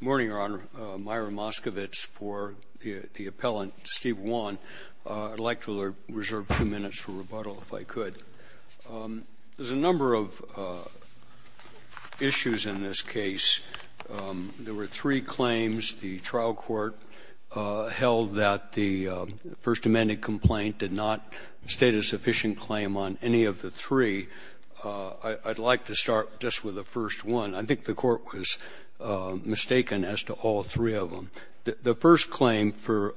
Morning, Your Honor. Myron Moskovitz for the appellant, Steve Won. I'd like to reserve two minutes for rebuttal, if I could. There's a number of issues in this case. There were three claims the trial court held that the First Amendment complaint did not state a sufficient claim on any of the three. I'd like to start just with the first one. I think the court was mistaken as to all three of them. The first claim for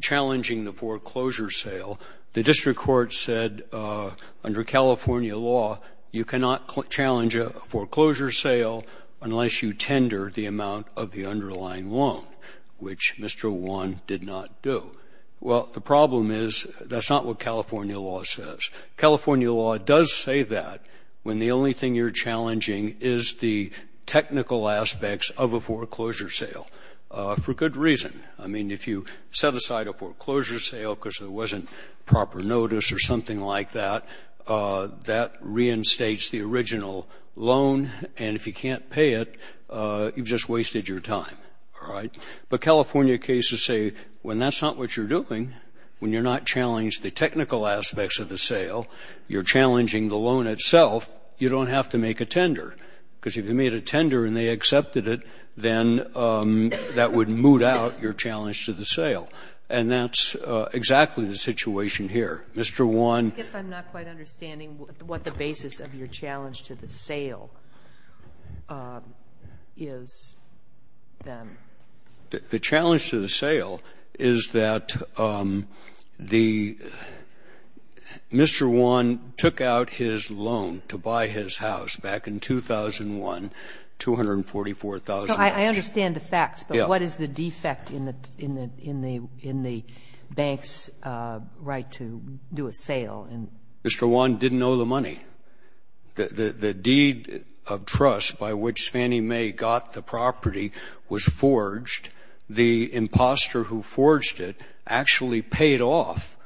challenging the foreclosure sale, the district court said, under California law, you cannot challenge a foreclosure sale unless you tender the amount of the underlying loan, which Mr. Won did not do. Well, the problem is, that's not what California law says. California law does say that, when the only thing you're challenging is the technical aspects of a foreclosure sale, for good reason. I mean, if you set aside a foreclosure sale because there wasn't proper notice or something like that, that reinstates the original loan, and if you can't pay it, you've just wasted your time, all right? But California cases say, when that's not what you're doing, when you're not challenged the technical aspects of the sale, you're just wasting your time. So if you can't pay the loan itself, you don't have to make a tender, because if you made a tender and they accepted it, then that would moot out your challenge to the sale. And that's exactly the situation here. Mr. Won ---- I guess I'm not quite understanding what the basis of your challenge to the sale is, then. The challenge to the sale is that the ---- Mr. Won took out his loan to buy his house back in 2001, $244,000. I understand the facts, but what is the defect in the bank's right to do a sale? Mr. Won didn't owe the money. The deed of trust by which Fannie Mae got the property was forged. The imposter who forged it actually paid off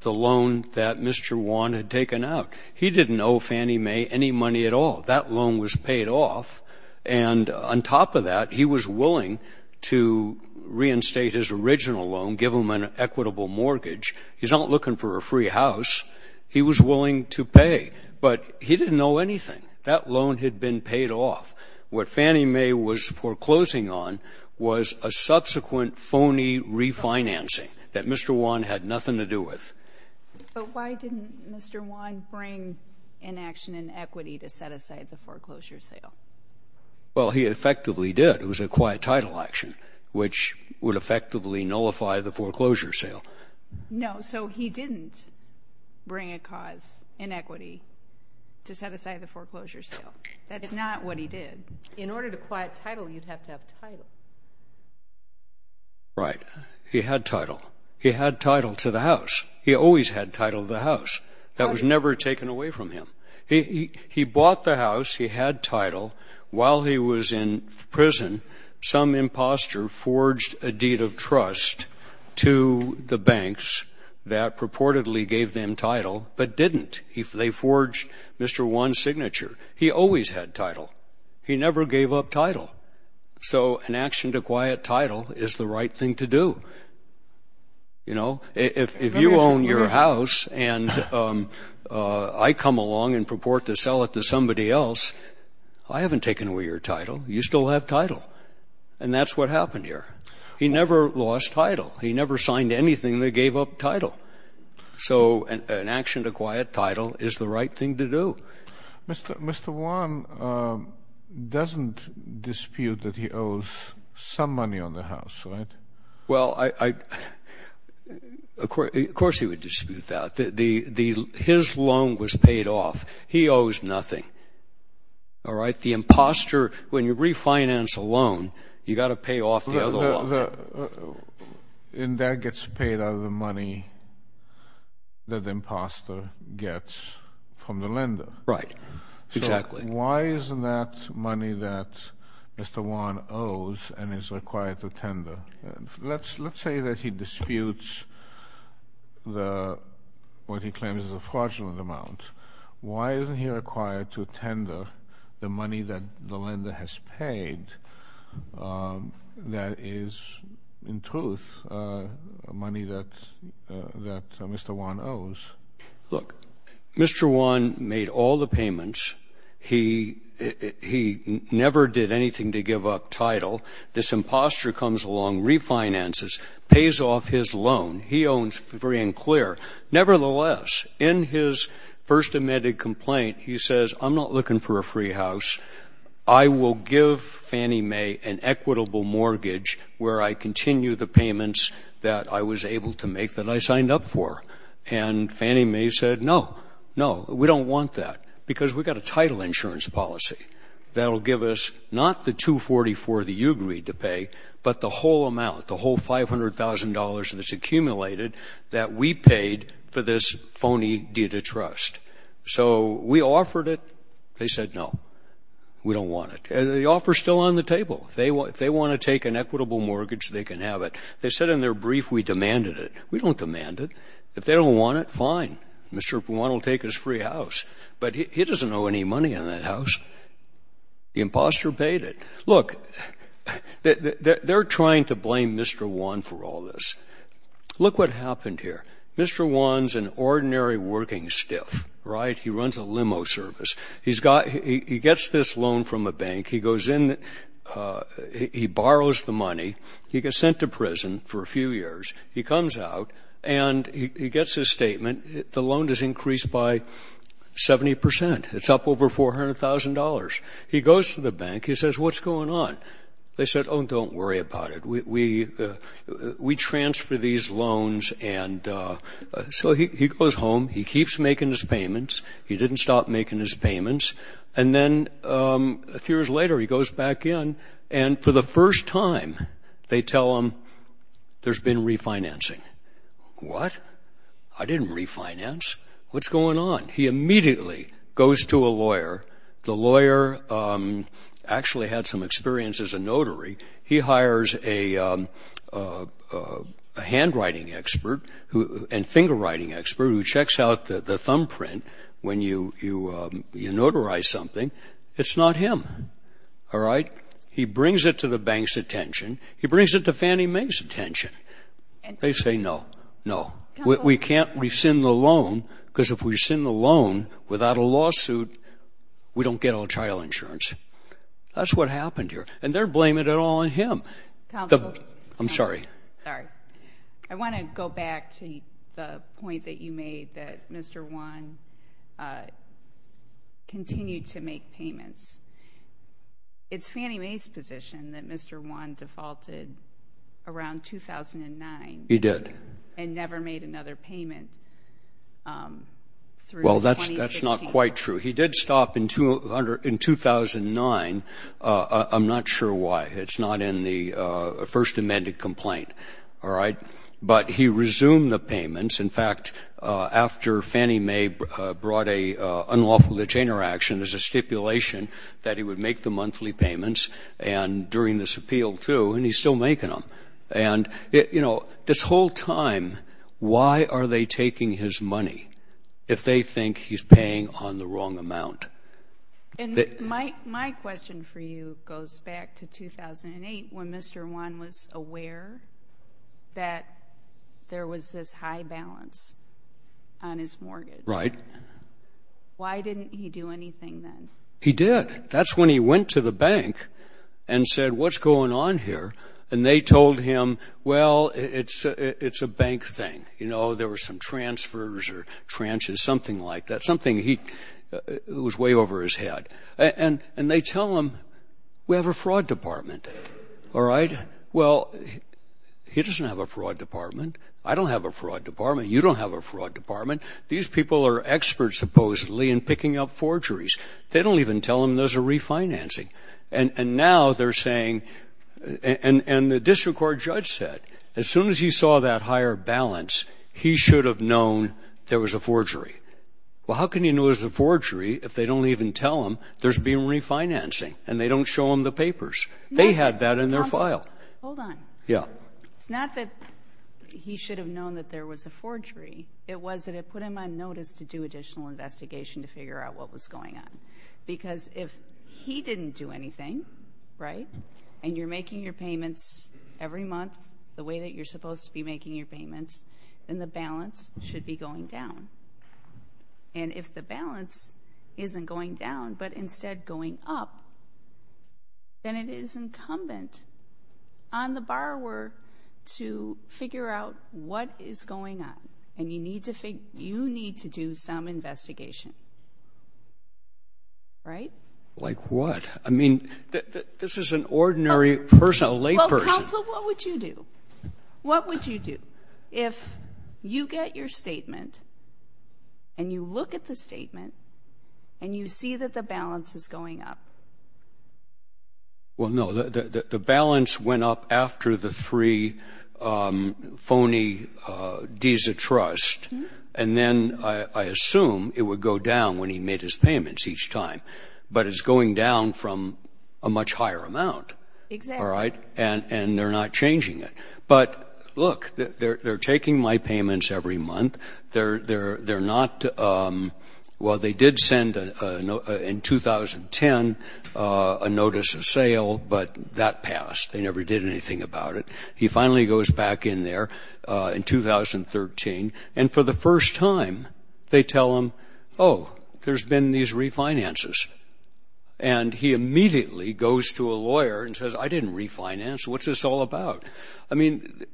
the loan that Mr. Won had taken out. He didn't owe Fannie Mae any money at all. That loan was paid off, and on top of that, he was willing to reinstate his original loan, give him an equitable mortgage. He's not looking for a free house. He was willing to pay, but he didn't owe anything. That loan had been paid off. What Fannie Mae was foreclosing on was a subsequent phony refinancing that Mr. Won had nothing to do with. But why didn't Mr. Won bring inaction and equity to set aside the foreclosure sale? Well, he effectively did. It was a quiet title action, which would effectively nullify the foreclosure sale. No, so he didn't bring a cause in equity to set aside the foreclosure sale. That's not what he did. In order to quiet title, you'd have to have title. Right. He had title. He had title to the house. He always had title to the house. That was never taken away from him. He bought the house. He had title. While he was in prison, some imposter forged a deed of trust to the banks that purportedly gave them title, but didn't. They forged Mr. Won's signature. He always had title. He never gave up title. So an action to quiet title is the right thing to do. You know, if you own your house and I come along and purport to sell it to somebody else, I haven't taken away your title. You still have title. And that's what happened here. He never lost title. He never signed anything that gave up title. So an action to quiet title is the right thing to do. Mr. Won doesn't dispute that he owes some money on the house, right? Well, of course he would dispute that. His loan was paid off. He owes nothing. All right? The imposter, when you refinance a loan, you've got to pay off the other one. And that gets paid out of the money that the imposter gets from the lender. Right. Exactly. Why isn't that money that Mr. Won owes and is required to tender? Let's say that he disputes what he claims is a fraudulent amount. Why isn't he required to tender the money that the lender has paid that is, in truth, money that Mr. Won owes? Look, Mr. Won made all the payments. He never did anything to give up title. This imposter comes along, refinances, pays off his loan. He owns free and clear. Nevertheless, in his first amended complaint, he says, I'm not looking for a free house. I will give Fannie Mae an equitable mortgage where I continue the payments that I was able to make that I signed up for. And Fannie Mae said, no, no, we don't want that because we've got a title insurance policy that will give us not the $244,000 that you agreed to pay, but the whole amount, the whole $500,000 that's accumulated that we paid for this phony deed of trust. So we offered it. They said, no, we don't want it. And the offer is still on the table. If they want to take an equitable mortgage, they can have it. They said in their brief, we demanded it. We don't demand it. If they don't want it, fine. Mr. Won will take his free house. But he doesn't owe any money on that house. The imposter paid it. Look, they're trying to blame Mr. Won for all this. Look what happened here. Mr. Won's an ordinary working stiff, right? He runs a limo service. He gets this loan from a bank. He goes in. He borrows the money. He gets sent to prison for a few years. He comes out, and he gets his statement. The loan is increased by 70%. It's up over $400,000. He goes to the bank. He says, what's going on? They said, oh, don't worry about it. We transfer these loans. So he goes home. He keeps making his payments. He didn't stop making his payments. And then a few years later, he goes back in. And for the first time, they tell him there's been refinancing. What? I didn't refinance. What's going on? He immediately goes to a lawyer. The lawyer actually had some experience as a notary. He hires a handwriting expert and finger writing expert who checks out the thumbprint when you notarize something. It's not him. All right? He brings it to the bank's attention. He brings it to Fannie Mae's attention. They say, no, no. We can't rescind the loan because if we rescind the loan without a lawsuit, we don't get all child insurance. That's what happened here. And they're blaming it all on him. I'm sorry. I want to go back to the point that you made that Mr. Wan continued to make payments. It's Fannie Mae's position that Mr. Wan defaulted around 2009. He did. And never made another payment through 2016. Well, that's not quite true. He did stop in 2009. I'm not sure why. It's not in the first amended complaint. All right? But he resumed the payments. In fact, after Fannie Mae brought an unlawful detainer action, there's a stipulation that he would make the monthly payments during this appeal too, and he's still making them. And, you know, this whole time, why are they taking his money if they think he's paying on the wrong amount? And my question for you goes back to 2008, when Mr. Wan was aware that there was this high balance on his mortgage. Right. Why didn't he do anything then? He did. That's when he went to the bank and said, what's going on here? And they told him, well, it's a bank thing. You know, there were some transfers or tranches, something like that, something that was way over his head. And they tell him, we have a fraud department. All right? Well, he doesn't have a fraud department. I don't have a fraud department. You don't have a fraud department. These people are experts, supposedly, in picking up forgeries. They don't even tell him those are refinancing. And now they're saying, and the district court judge said, as soon as he saw that higher balance, he should have known there was a forgery. Well, how can he know there's a forgery if they don't even tell him there's been refinancing and they don't show him the papers? They had that in their file. Hold on. Yeah. It's not that he should have known that there was a forgery. It was that it put him on notice to do additional investigation to figure out what was going on. Because if he didn't do anything, right, and you're making your payments every month, the way that you're supposed to be making your payments, then the balance should be going down. And if the balance isn't going down but instead going up, then it is incumbent on the borrower to figure out what is going on. And you need to do some investigation. Right? Like what? I mean, this is an ordinary person, a layperson. Counsel, what would you do? What would you do if you get your statement and you look at the statement and you see that the balance is going up? Well, no, the balance went up after the three phony deeds of trust, and then I assume it would go down when he made his payments each time. But it's going down from a much higher amount. Exactly. All right? And they're not changing it. But, look, they're taking my payments every month. They're not, well, they did send in 2010 a notice of sale, but that passed. They never did anything about it. He finally goes back in there in 2013, and for the first time they tell him, oh, there's been these refinances. And he immediately goes to a lawyer and says, I didn't refinance. What's this all about? I mean,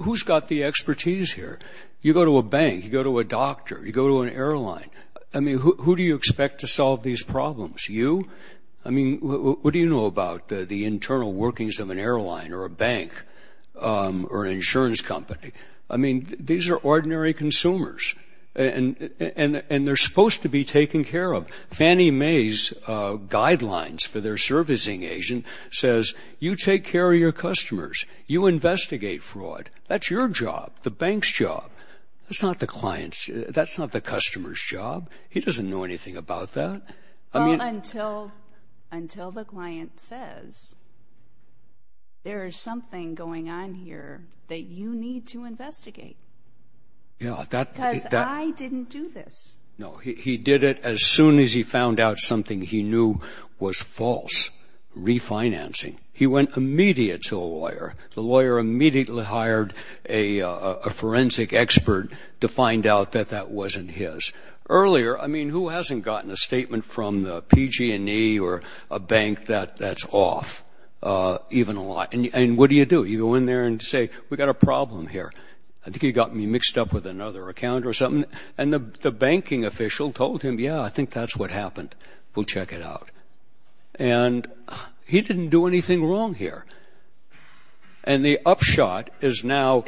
who's got the expertise here? You go to a bank. You go to a doctor. You go to an airline. I mean, who do you expect to solve these problems? You? I mean, what do you know about the internal workings of an airline or a bank or an insurance company? I mean, these are ordinary consumers, and they're supposed to be taken care of. Fannie Mae's guidelines for their servicing agent says you take care of your customers. You investigate fraud. That's your job. The bank's job. That's not the customer's job. He doesn't know anything about that. Well, until the client says there is something going on here that you need to investigate. Because I didn't do this. No, he did it as soon as he found out something he knew was false. Refinancing. He went immediate to a lawyer. The lawyer immediately hired a forensic expert to find out that that wasn't his. Earlier, I mean, who hasn't gotten a statement from the PG&E or a bank that's off even a lot? And what do you do? You go in there and say, we've got a problem here. I think you got me mixed up with another accountant or something. And the banking official told him, yeah, I think that's what happened. We'll check it out. And he didn't do anything wrong here. And the upshot is now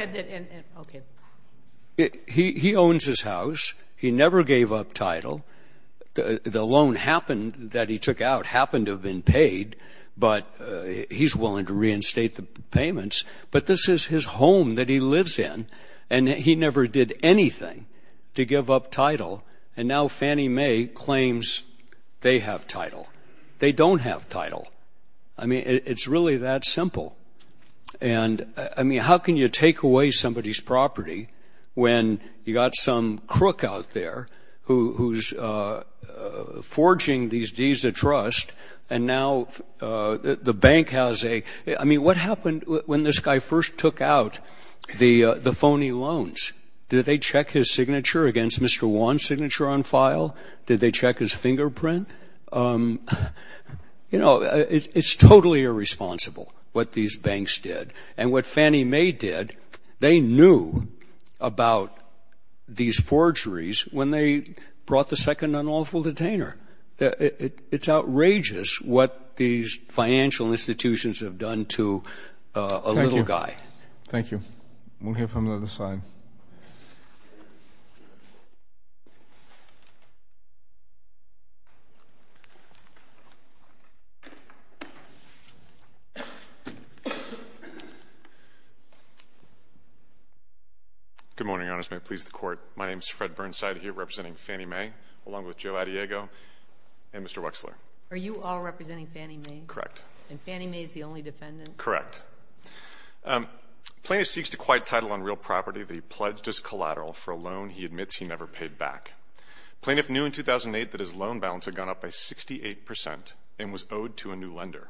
he owns his house. He never gave up title. The loan that he took out happened to have been paid, but he's willing to reinstate the payments. But this is his home that he lives in, and he never did anything to give up title. And now Fannie Mae claims they have title. They don't have title. I mean, it's really that simple. And, I mean, how can you take away somebody's property when you got some crook out there who's forging these deeds of trust? And now the bank has a – I mean, what happened when this guy first took out the phony loans? Did they check his signature against Mr. Wan's signature on file? Did they check his fingerprint? You know, it's totally irresponsible what these banks did. And what Fannie Mae did, they knew about these forgeries when they brought the second unlawful detainer. It's outrageous what these financial institutions have done to a little guy. Thank you. We'll hear from the other side. Good morning, Your Honors. May it please the Court. My name is Fred Burnside. I'm here representing Fannie Mae, along with Joe Addiego and Mr. Wexler. Are you all representing Fannie Mae? Correct. And Fannie Mae is the only defendant? Correct. Plaintiff seeks to quiet title on real property that he pledged as collateral for a loan he admits he never paid back. Plaintiff knew in 2008 that his loan balance had gone up by 68 percent and was owed to a new lender.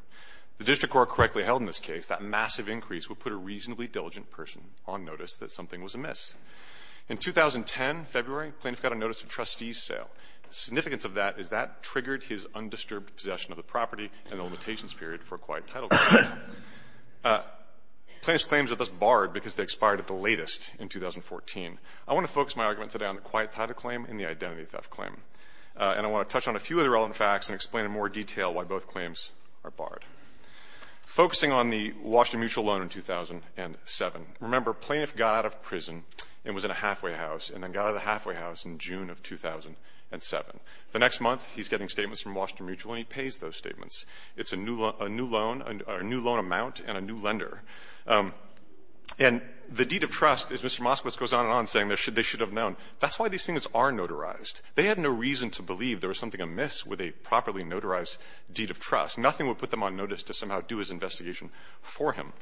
If the District Court correctly held in this case, that massive increase would put a reasonably diligent person on notice that something was amiss. In 2010, February, plaintiff got a notice of trustee sale. The significance of that is that triggered his undisturbed possession of the property and the limitations period for a quiet title claim. Plaintiff's claims were thus barred because they expired at the latest in 2014. I want to focus my argument today on the quiet title claim and the identity theft claim. And I want to touch on a few of the relevant facts and explain in more detail why both claims are barred. Focusing on the Washington Mutual loan in 2007. Remember, plaintiff got out of prison and was in a halfway house and then got out of the halfway house in June of 2007. The next month, he's getting statements from Washington Mutual and he pays those statements. It's a new loan amount and a new lender. And the deed of trust is Mr. Moskowitz goes on and on saying they should have known. That's why these things are notarized. They had no reason to believe there was something amiss with a properly notarized deed of trust. Nothing would put them on notice to somehow do his investigation for him.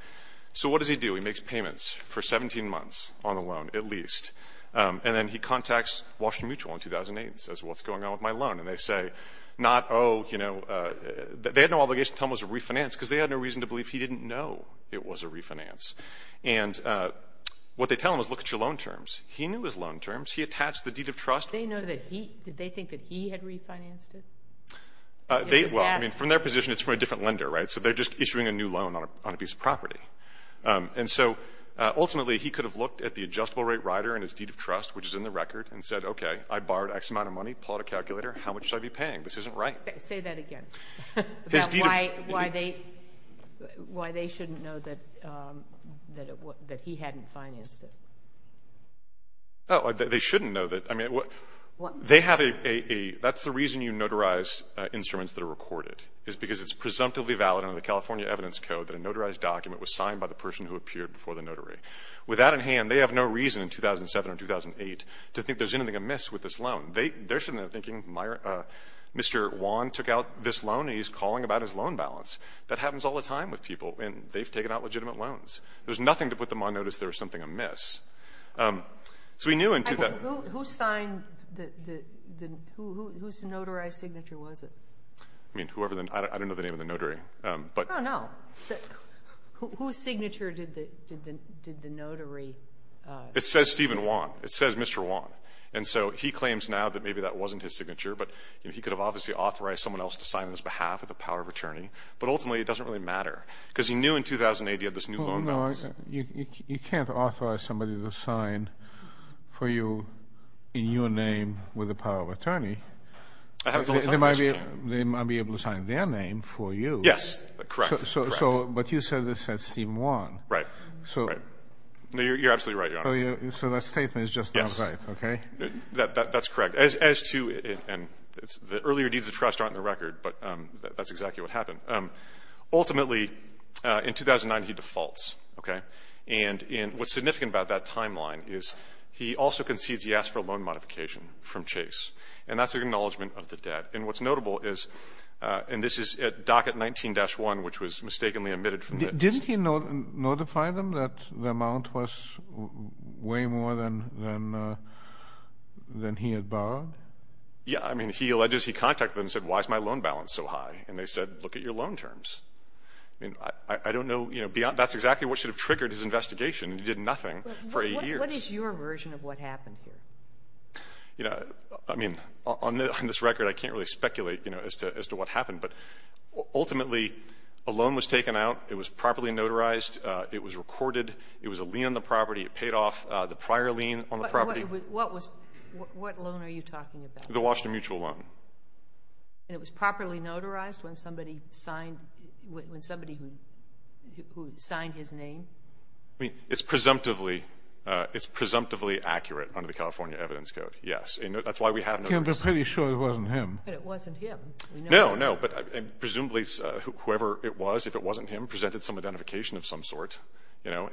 So what does he do? He makes payments for 17 months on the loan, at least. And then he contacts Washington Mutual in 2008 and says, well, what's going on with my loan? And they say not, oh, you know, they had no obligation to tell him it was a refinance because they had no reason to believe he didn't know it was a refinance. And what they tell him is look at your loan terms. He knew his loan terms. He attached the deed of trust. They know that he, did they think that he had refinanced it? Well, I mean, from their position, it's from a different lender, right? So they're just issuing a new loan on a piece of property. And so ultimately he could have looked at the adjustable rate rider and his deed of trust, which is in the record, and said, okay, I borrowed X amount of money, pulled out a calculator. How much should I be paying? This isn't right. Say that again. His deed of trust. Why they shouldn't know that he hadn't financed it. Oh, they shouldn't know that. I mean, they have a, that's the reason you notarize instruments that are recorded, is because it's presumptively valid under the California Evidence Code that a notarized document was signed by the person who appeared before the notary. With that in hand, they have no reason in 2007 or 2008 to think there's anything amiss with this loan. They shouldn't have been thinking Mr. Juan took out this loan and he's calling about his loan balance. That happens all the time with people, and they've taken out legitimate loans. There's nothing to put them on notice there's something amiss. So we knew in 2007. Who signed the, whose notarized signature was it? I mean, whoever, I don't know the name of the notary. Oh, no. Whose signature did the notary? It says Stephen Juan. It says Mr. Juan. And so he claims now that maybe that wasn't his signature, but he could have obviously authorized someone else to sign on his behalf with the power of attorney. But ultimately it doesn't really matter because he knew in 2008 he had this new loan balance. You can't authorize somebody to sign for you in your name with the power of attorney. They might be able to sign their name for you. Yes. Correct. But you said it said Stephen Juan. Right. You're absolutely right, Your Honor. So that statement is just not right. Yes. Okay. That's correct. As to, and the earlier deeds of trust aren't in the record, but that's exactly what happened. Ultimately, in 2009 he defaults. Okay. And what's significant about that timeline is he also concedes he asked for a loan modification from Chase. And that's an acknowledgment of the debt. And what's notable is, and this is at docket 19-1, which was mistakenly omitted from this. Didn't he notify them that the amount was way more than he had borrowed? Yeah. I mean, he alleges he contacted them and said, why is my loan balance so high? And they said, look at your loan terms. I mean, I don't know, you know, that's exactly what should have triggered his investigation. He did nothing for eight years. What is your version of what happened here? You know, I mean, on this record I can't really speculate, you know, as to what happened. But ultimately a loan was taken out. It was properly notarized. It was recorded. It was a lien on the property. It paid off the prior lien on the property. What was, what loan are you talking about? The Washington Mutual loan. And it was properly notarized when somebody signed, when somebody who signed his name? I mean, it's presumptively, it's presumptively accurate under the California Evidence Code, yes. That's why we have no reason. You're pretty sure it wasn't him. But it wasn't him. No, no. But presumably whoever it was, if it wasn't him, presented some identification of some sort, you know.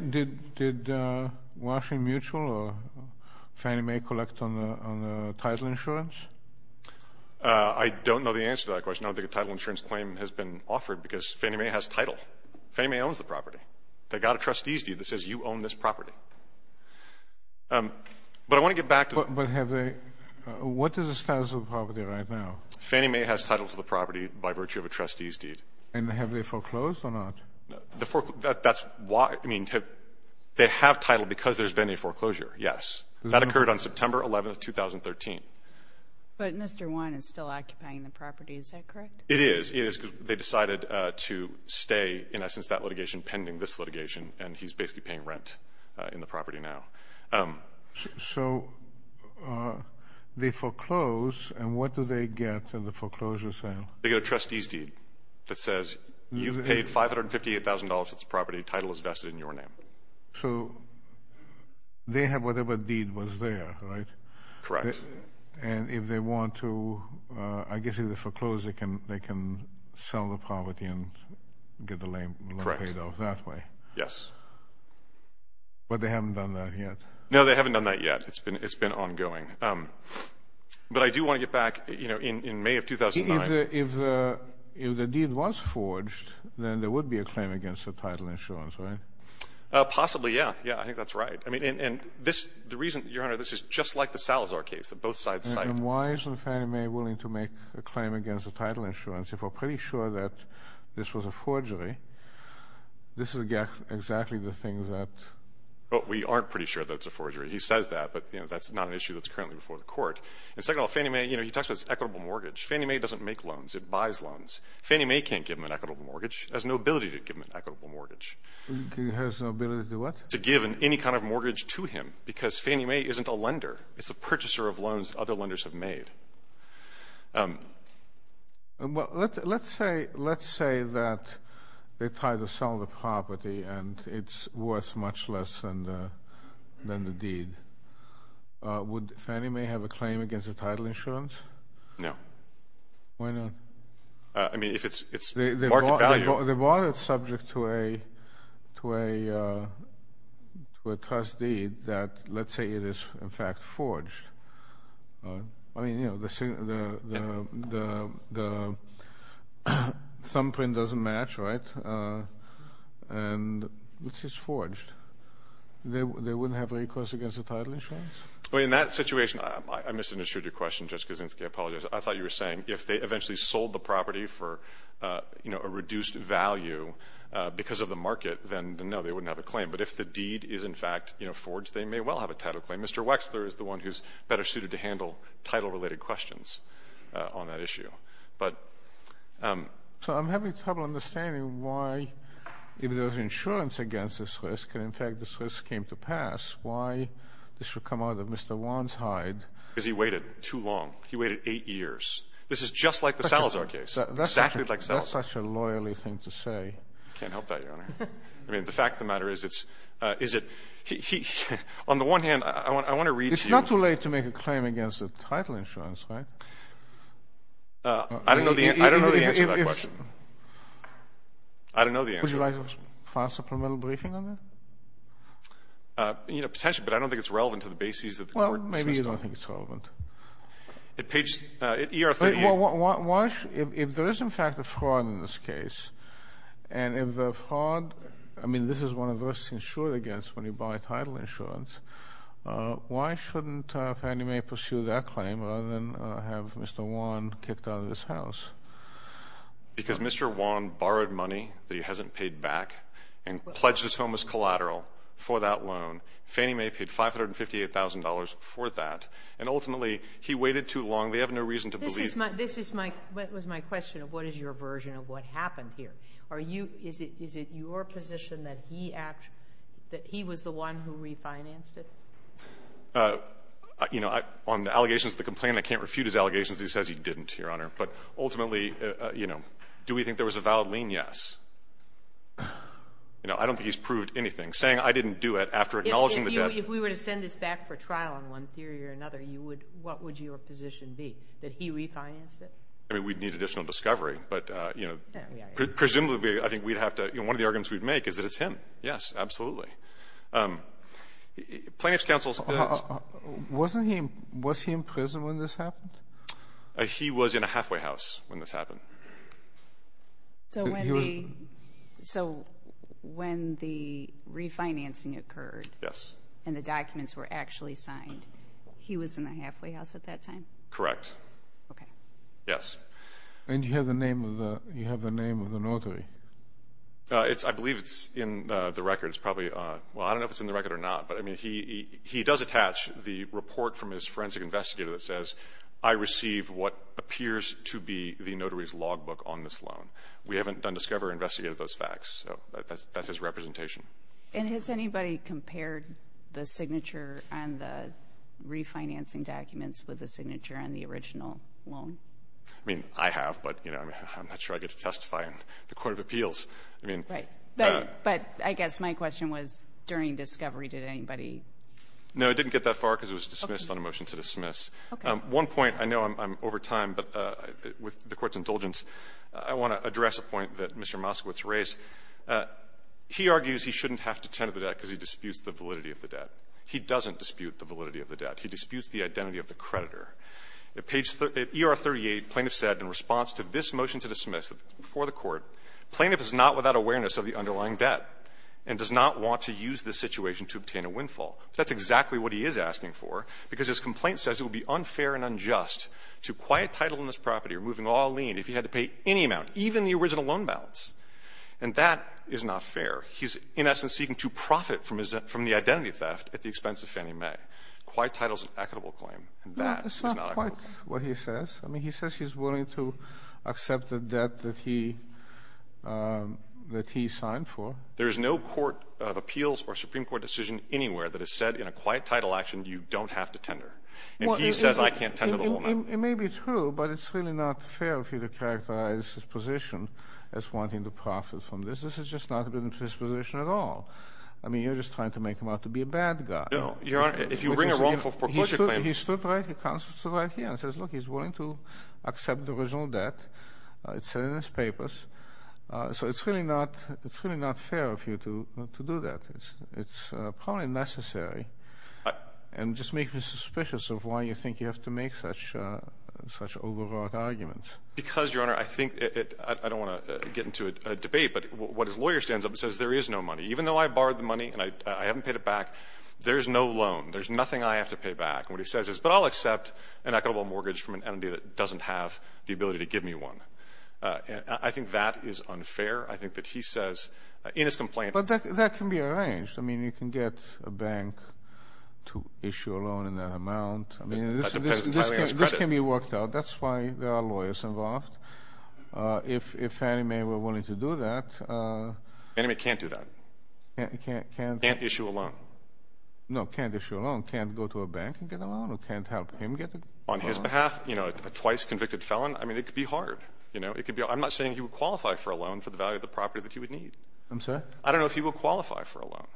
Did Washington Mutual or Fannie Mae collect on the title insurance? I don't know the answer to that question. I don't think a title insurance claim has been offered because Fannie Mae has title. Fannie Mae owns the property. They got a trustee's deed that says you own this property. But I want to get back to the... But have they, what is the status of the property right now? Fannie Mae has title to the property by virtue of a trustee's deed. And have they foreclosed or not? That's why, I mean, they have title because there's been a foreclosure, yes. That occurred on September 11th, 2013. But Mr. Wynne is still occupying the property. Is that correct? It is. It is because they decided to stay, in essence, that litigation pending this litigation, and he's basically paying rent in the property now. So they foreclose, and what do they get in the foreclosure sale? They get a trustee's deed that says you've paid $558,000 for this property. Title is vested in your name. So they have whatever deed was there, right? Correct. And if they want to, I guess if they foreclose, they can sell the property and get the loan paid off that way. Yes. But they haven't done that yet. No, they haven't done that yet. It's been ongoing. But I do want to get back, you know, in May of 2009... If the deed was forged, then there would be a claim against the title insurance, right? Possibly, yeah. Yeah, I think that's right. And the reason, Your Honor, this is just like the Salazar case that both sides cited. And why isn't Fannie Mae willing to make a claim against the title insurance if we're pretty sure that this was a forgery? This is exactly the thing that... Well, we aren't pretty sure that it's a forgery. He says that, but, you know, that's not an issue that's currently before the court. And second of all, Fannie Mae, you know, he talks about this equitable mortgage. Fannie Mae doesn't make loans. It buys loans. Fannie Mae can't give him an equitable mortgage. It has no ability to give him an equitable mortgage. It has no ability to what? To give any kind of mortgage to him because Fannie Mae isn't a lender. It's a purchaser of loans other lenders have made. Let's say that they tried to sell the property and it's worth much less than the deed. Would Fannie Mae have a claim against the title insurance? No. Why not? I mean, if it's market value...... to a trust deed that, let's say it is, in fact, forged. I mean, you know, the thumbprint doesn't match, right? And this is forged. They wouldn't have recourse against the title insurance? Well, in that situation, I misunderstood your question, Judge Kaczynski. I apologize. I thought you were saying if they eventually sold the property for, you know, a reduced value because of the market, then, no, they wouldn't have a claim. But if the deed is, in fact, you know, forged, they may well have a title claim. Mr. Wexler is the one who's better suited to handle title-related questions on that issue. But... So I'm having trouble understanding why if there's insurance against this risk, and, in fact, this risk came to pass, why this should come out of Mr. Wanshide. Because he waited too long. He waited eight years. This is just like the Salazar case. Exactly like Salazar. That's such a loyally thing to say. I can't help that, Your Honor. I mean, the fact of the matter is it's... On the one hand, I want to read to you... It's not too late to make a claim against the title insurance, right? I don't know the answer to that question. I don't know the answer. Would you like a file supplemental briefing on that? You know, potentially, but I don't think it's relevant to the bases that the court... Well, maybe you don't think it's relevant. At page... at ER 38... If there is, in fact, a fraud in this case, and if the fraud... I mean, this is one of the risks insured against when you buy title insurance. Why shouldn't Fannie Mae pursue that claim rather than have Mr. Wan kicked out of this house? Because Mr. Wan borrowed money that he hasn't paid back and pledged his home as collateral for that loan. Fannie Mae paid $558,000 for that, and, ultimately, he waited too long. They have no reason to believe... This was my question of what is your version of what happened here. Is it your position that he was the one who refinanced it? You know, on the allegations of the complaint, I can't refute his allegations. He says he didn't, Your Honor. But, ultimately, you know, do we think there was a valid lien? Yes. You know, I don't think he's proved anything. Saying I didn't do it after acknowledging the debt... If we were to send this back for trial on one theory or another, what would your position be? That he refinanced it? I mean, we'd need additional discovery, but, you know... Presumably, I think we'd have to... You know, one of the arguments we'd make is that it's him. Yes, absolutely. Plaintiff's counsel... Wasn't he... Was he in prison when this happened? He was in a halfway house when this happened. So, when the refinancing occurred... Yes. And, the documents were actually signed. He was in a halfway house at that time? Correct. Okay. Yes. And, you have the name of the notary? I believe it's in the record. It's probably... Well, I don't know if it's in the record or not. But, I mean, he does attach the report from his forensic investigator that says, I receive what appears to be the notary's logbook on this loan. We haven't done discovery or investigated those facts. So, that's his representation. And, has anybody compared the signature on the refinancing documents with the signature on the original loan? I mean, I have. But, you know, I'm not sure I get to testify in the Court of Appeals. I mean... Right. But, I guess my question was, during discovery, did anybody... No, it didn't get that far because it was dismissed on a motion to dismiss. Okay. One point, I know I'm over time, but with the Court's indulgence, I want to address a point that Mr. Moskowitz raised. He argues he shouldn't have to tend to the debt because he disputes the validity of the debt. He doesn't dispute the validity of the debt. He disputes the identity of the creditor. At page... at ER 38, plaintiff said, in response to this motion to dismiss before the Court, plaintiff is not without awareness of the underlying debt and does not want to use this situation to obtain a windfall. That's exactly what he is asking for because his complaint says it would be unfair and unjust to quiet title in this property or moving all lien if he had to pay any amount, even the original loan balance. And that is not fair. He's, in essence, seeking to profit from the identity theft at the expense of Fannie Mae. Quiet title is an equitable claim, and that is not equitable. No, that's not quite what he says. I mean, he says he's willing to accept the debt that he signed for. There is no court of appeals or Supreme Court decision anywhere that has said, in a quiet title action, you don't have to tender. And he says I can't tender the whole amount. It may be true, but it's really not fair of you to characterize his position as wanting to profit from this. This has just not been his position at all. I mean, you're just trying to make him out to be a bad guy. No, Your Honor, if you bring a wrongful foreclosure claim... He stood right here and says, look, he's willing to accept the original debt. It's in his papers. So it's really not fair of you to do that. It's probably necessary and just makes me suspicious of why you think you have to make such overwrought arguments. Because, Your Honor, I think it—I don't want to get into a debate, but what his lawyer stands up and says, there is no money. Even though I borrowed the money and I haven't paid it back, there's no loan. There's nothing I have to pay back. And what he says is, but I'll accept an equitable mortgage from an entity that doesn't have the ability to give me one. I think that is unfair. I think that he says in his complaint... But that can be arranged. I mean, you can get a bank to issue a loan in that amount. I mean, this can be worked out. That's why there are lawyers involved. If Fannie Mae were willing to do that... Fannie Mae can't do that. Can't issue a loan. No, can't issue a loan. Can't go to a bank and get a loan or can't help him get a loan. On his behalf, you know, a twice convicted felon, I mean, it could be hard. I'm not saying he would qualify for a loan for the value of the property that he would need. I'm sorry? I don't know if he would qualify for a loan.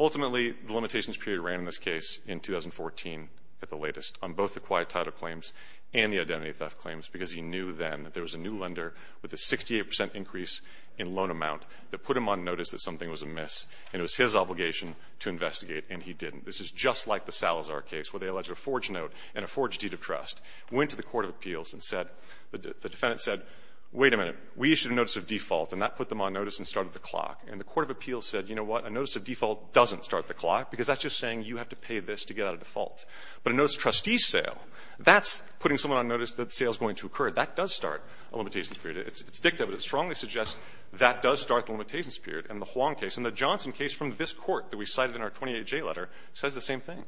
Ultimately, the limitations period ran in this case in 2014 at the latest on both the quiet title claims and the identity theft claims because he knew then that there was a new lender with a 68% increase in loan amount that put him on notice that something was amiss. And it was his obligation to investigate, and he didn't. This is just like the Salazar case where they alleged a forged note and a forged deed of trust. Went to the court of appeals and said, the defendant said, wait a minute, we issued a notice of default and that put them on notice and started the clock. And the court of appeals said, you know what, a notice of default doesn't start the clock because that's just saying you have to pay this to get out of default. But a notice of trustee sale, that's putting someone on notice that sale is going to occur. That does start a limitation period. It's dicta, but it strongly suggests that does start the limitations period. And the Huang case and the Johnson case from this Court that we cited in our 28J letter says the same thing.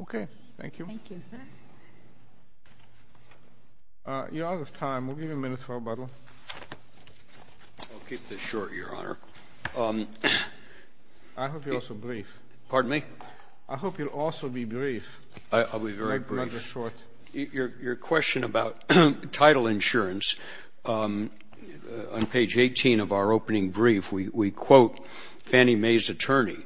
Okay. Thank you. Thank you. You're out of time. We'll give you a minute for rebuttal. I'll keep this short, Your Honor. I hope you're also brief. Pardon me? I hope you'll also be brief. I'll be very brief. Not just short. Your question about title insurance, on page 18 of our opening brief, we quote Fannie Mae's attorney.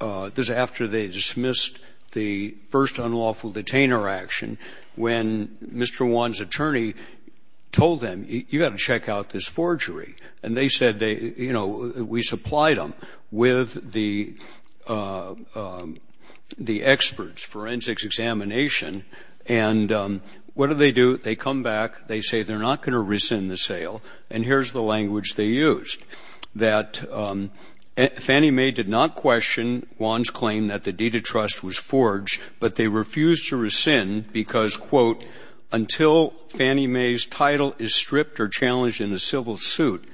This is after they dismissed the first unlawful detainer action when Mr. Huang's attorney told them, you've got to check out this forgery. And they said, you know, we supplied them with the experts, forensics examination. And what do they do? They come back. They say they're not going to rescind the sale. And here's the language they used. That Fannie Mae did not question Huang's claim that the deed of trust was forged, but they refused to rescind because, quote, until Fannie Mae's title is stripped or challenged in a civil suit,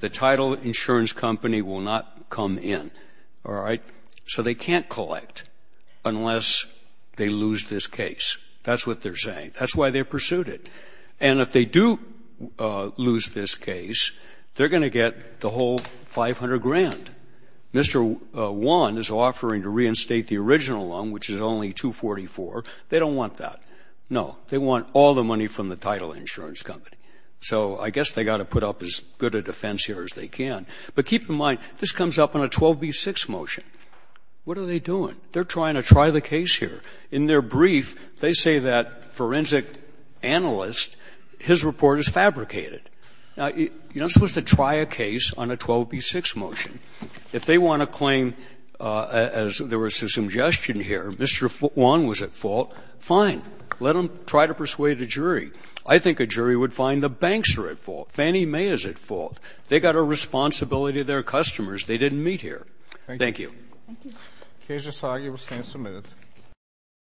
the title insurance company will not come in. All right? So they can't collect unless they lose this case. That's what they're saying. That's why they pursued it. And if they do lose this case, they're going to get the whole $500,000. Mr. Huang is offering to reinstate the original loan, which is only $244,000. They don't want that. No. They want all the money from the title insurance company. So I guess they've got to put up as good a defense here as they can. But keep in mind, this comes up on a 12b-6 motion. What are they doing? They're trying to try the case here. In their brief, they say that forensic analyst, his report is fabricated. Now, you're not supposed to try a case on a 12b-6 motion. If they want to claim, as there was a suggestion here, Mr. Huang was at fault, fine. Let them try to persuade a jury. I think a jury would find the banks are at fault. Fannie Mae is at fault. They've got a responsibility to their customers. They didn't meet here. Thank you. Thank you. Thank you. Thank you. Thank you.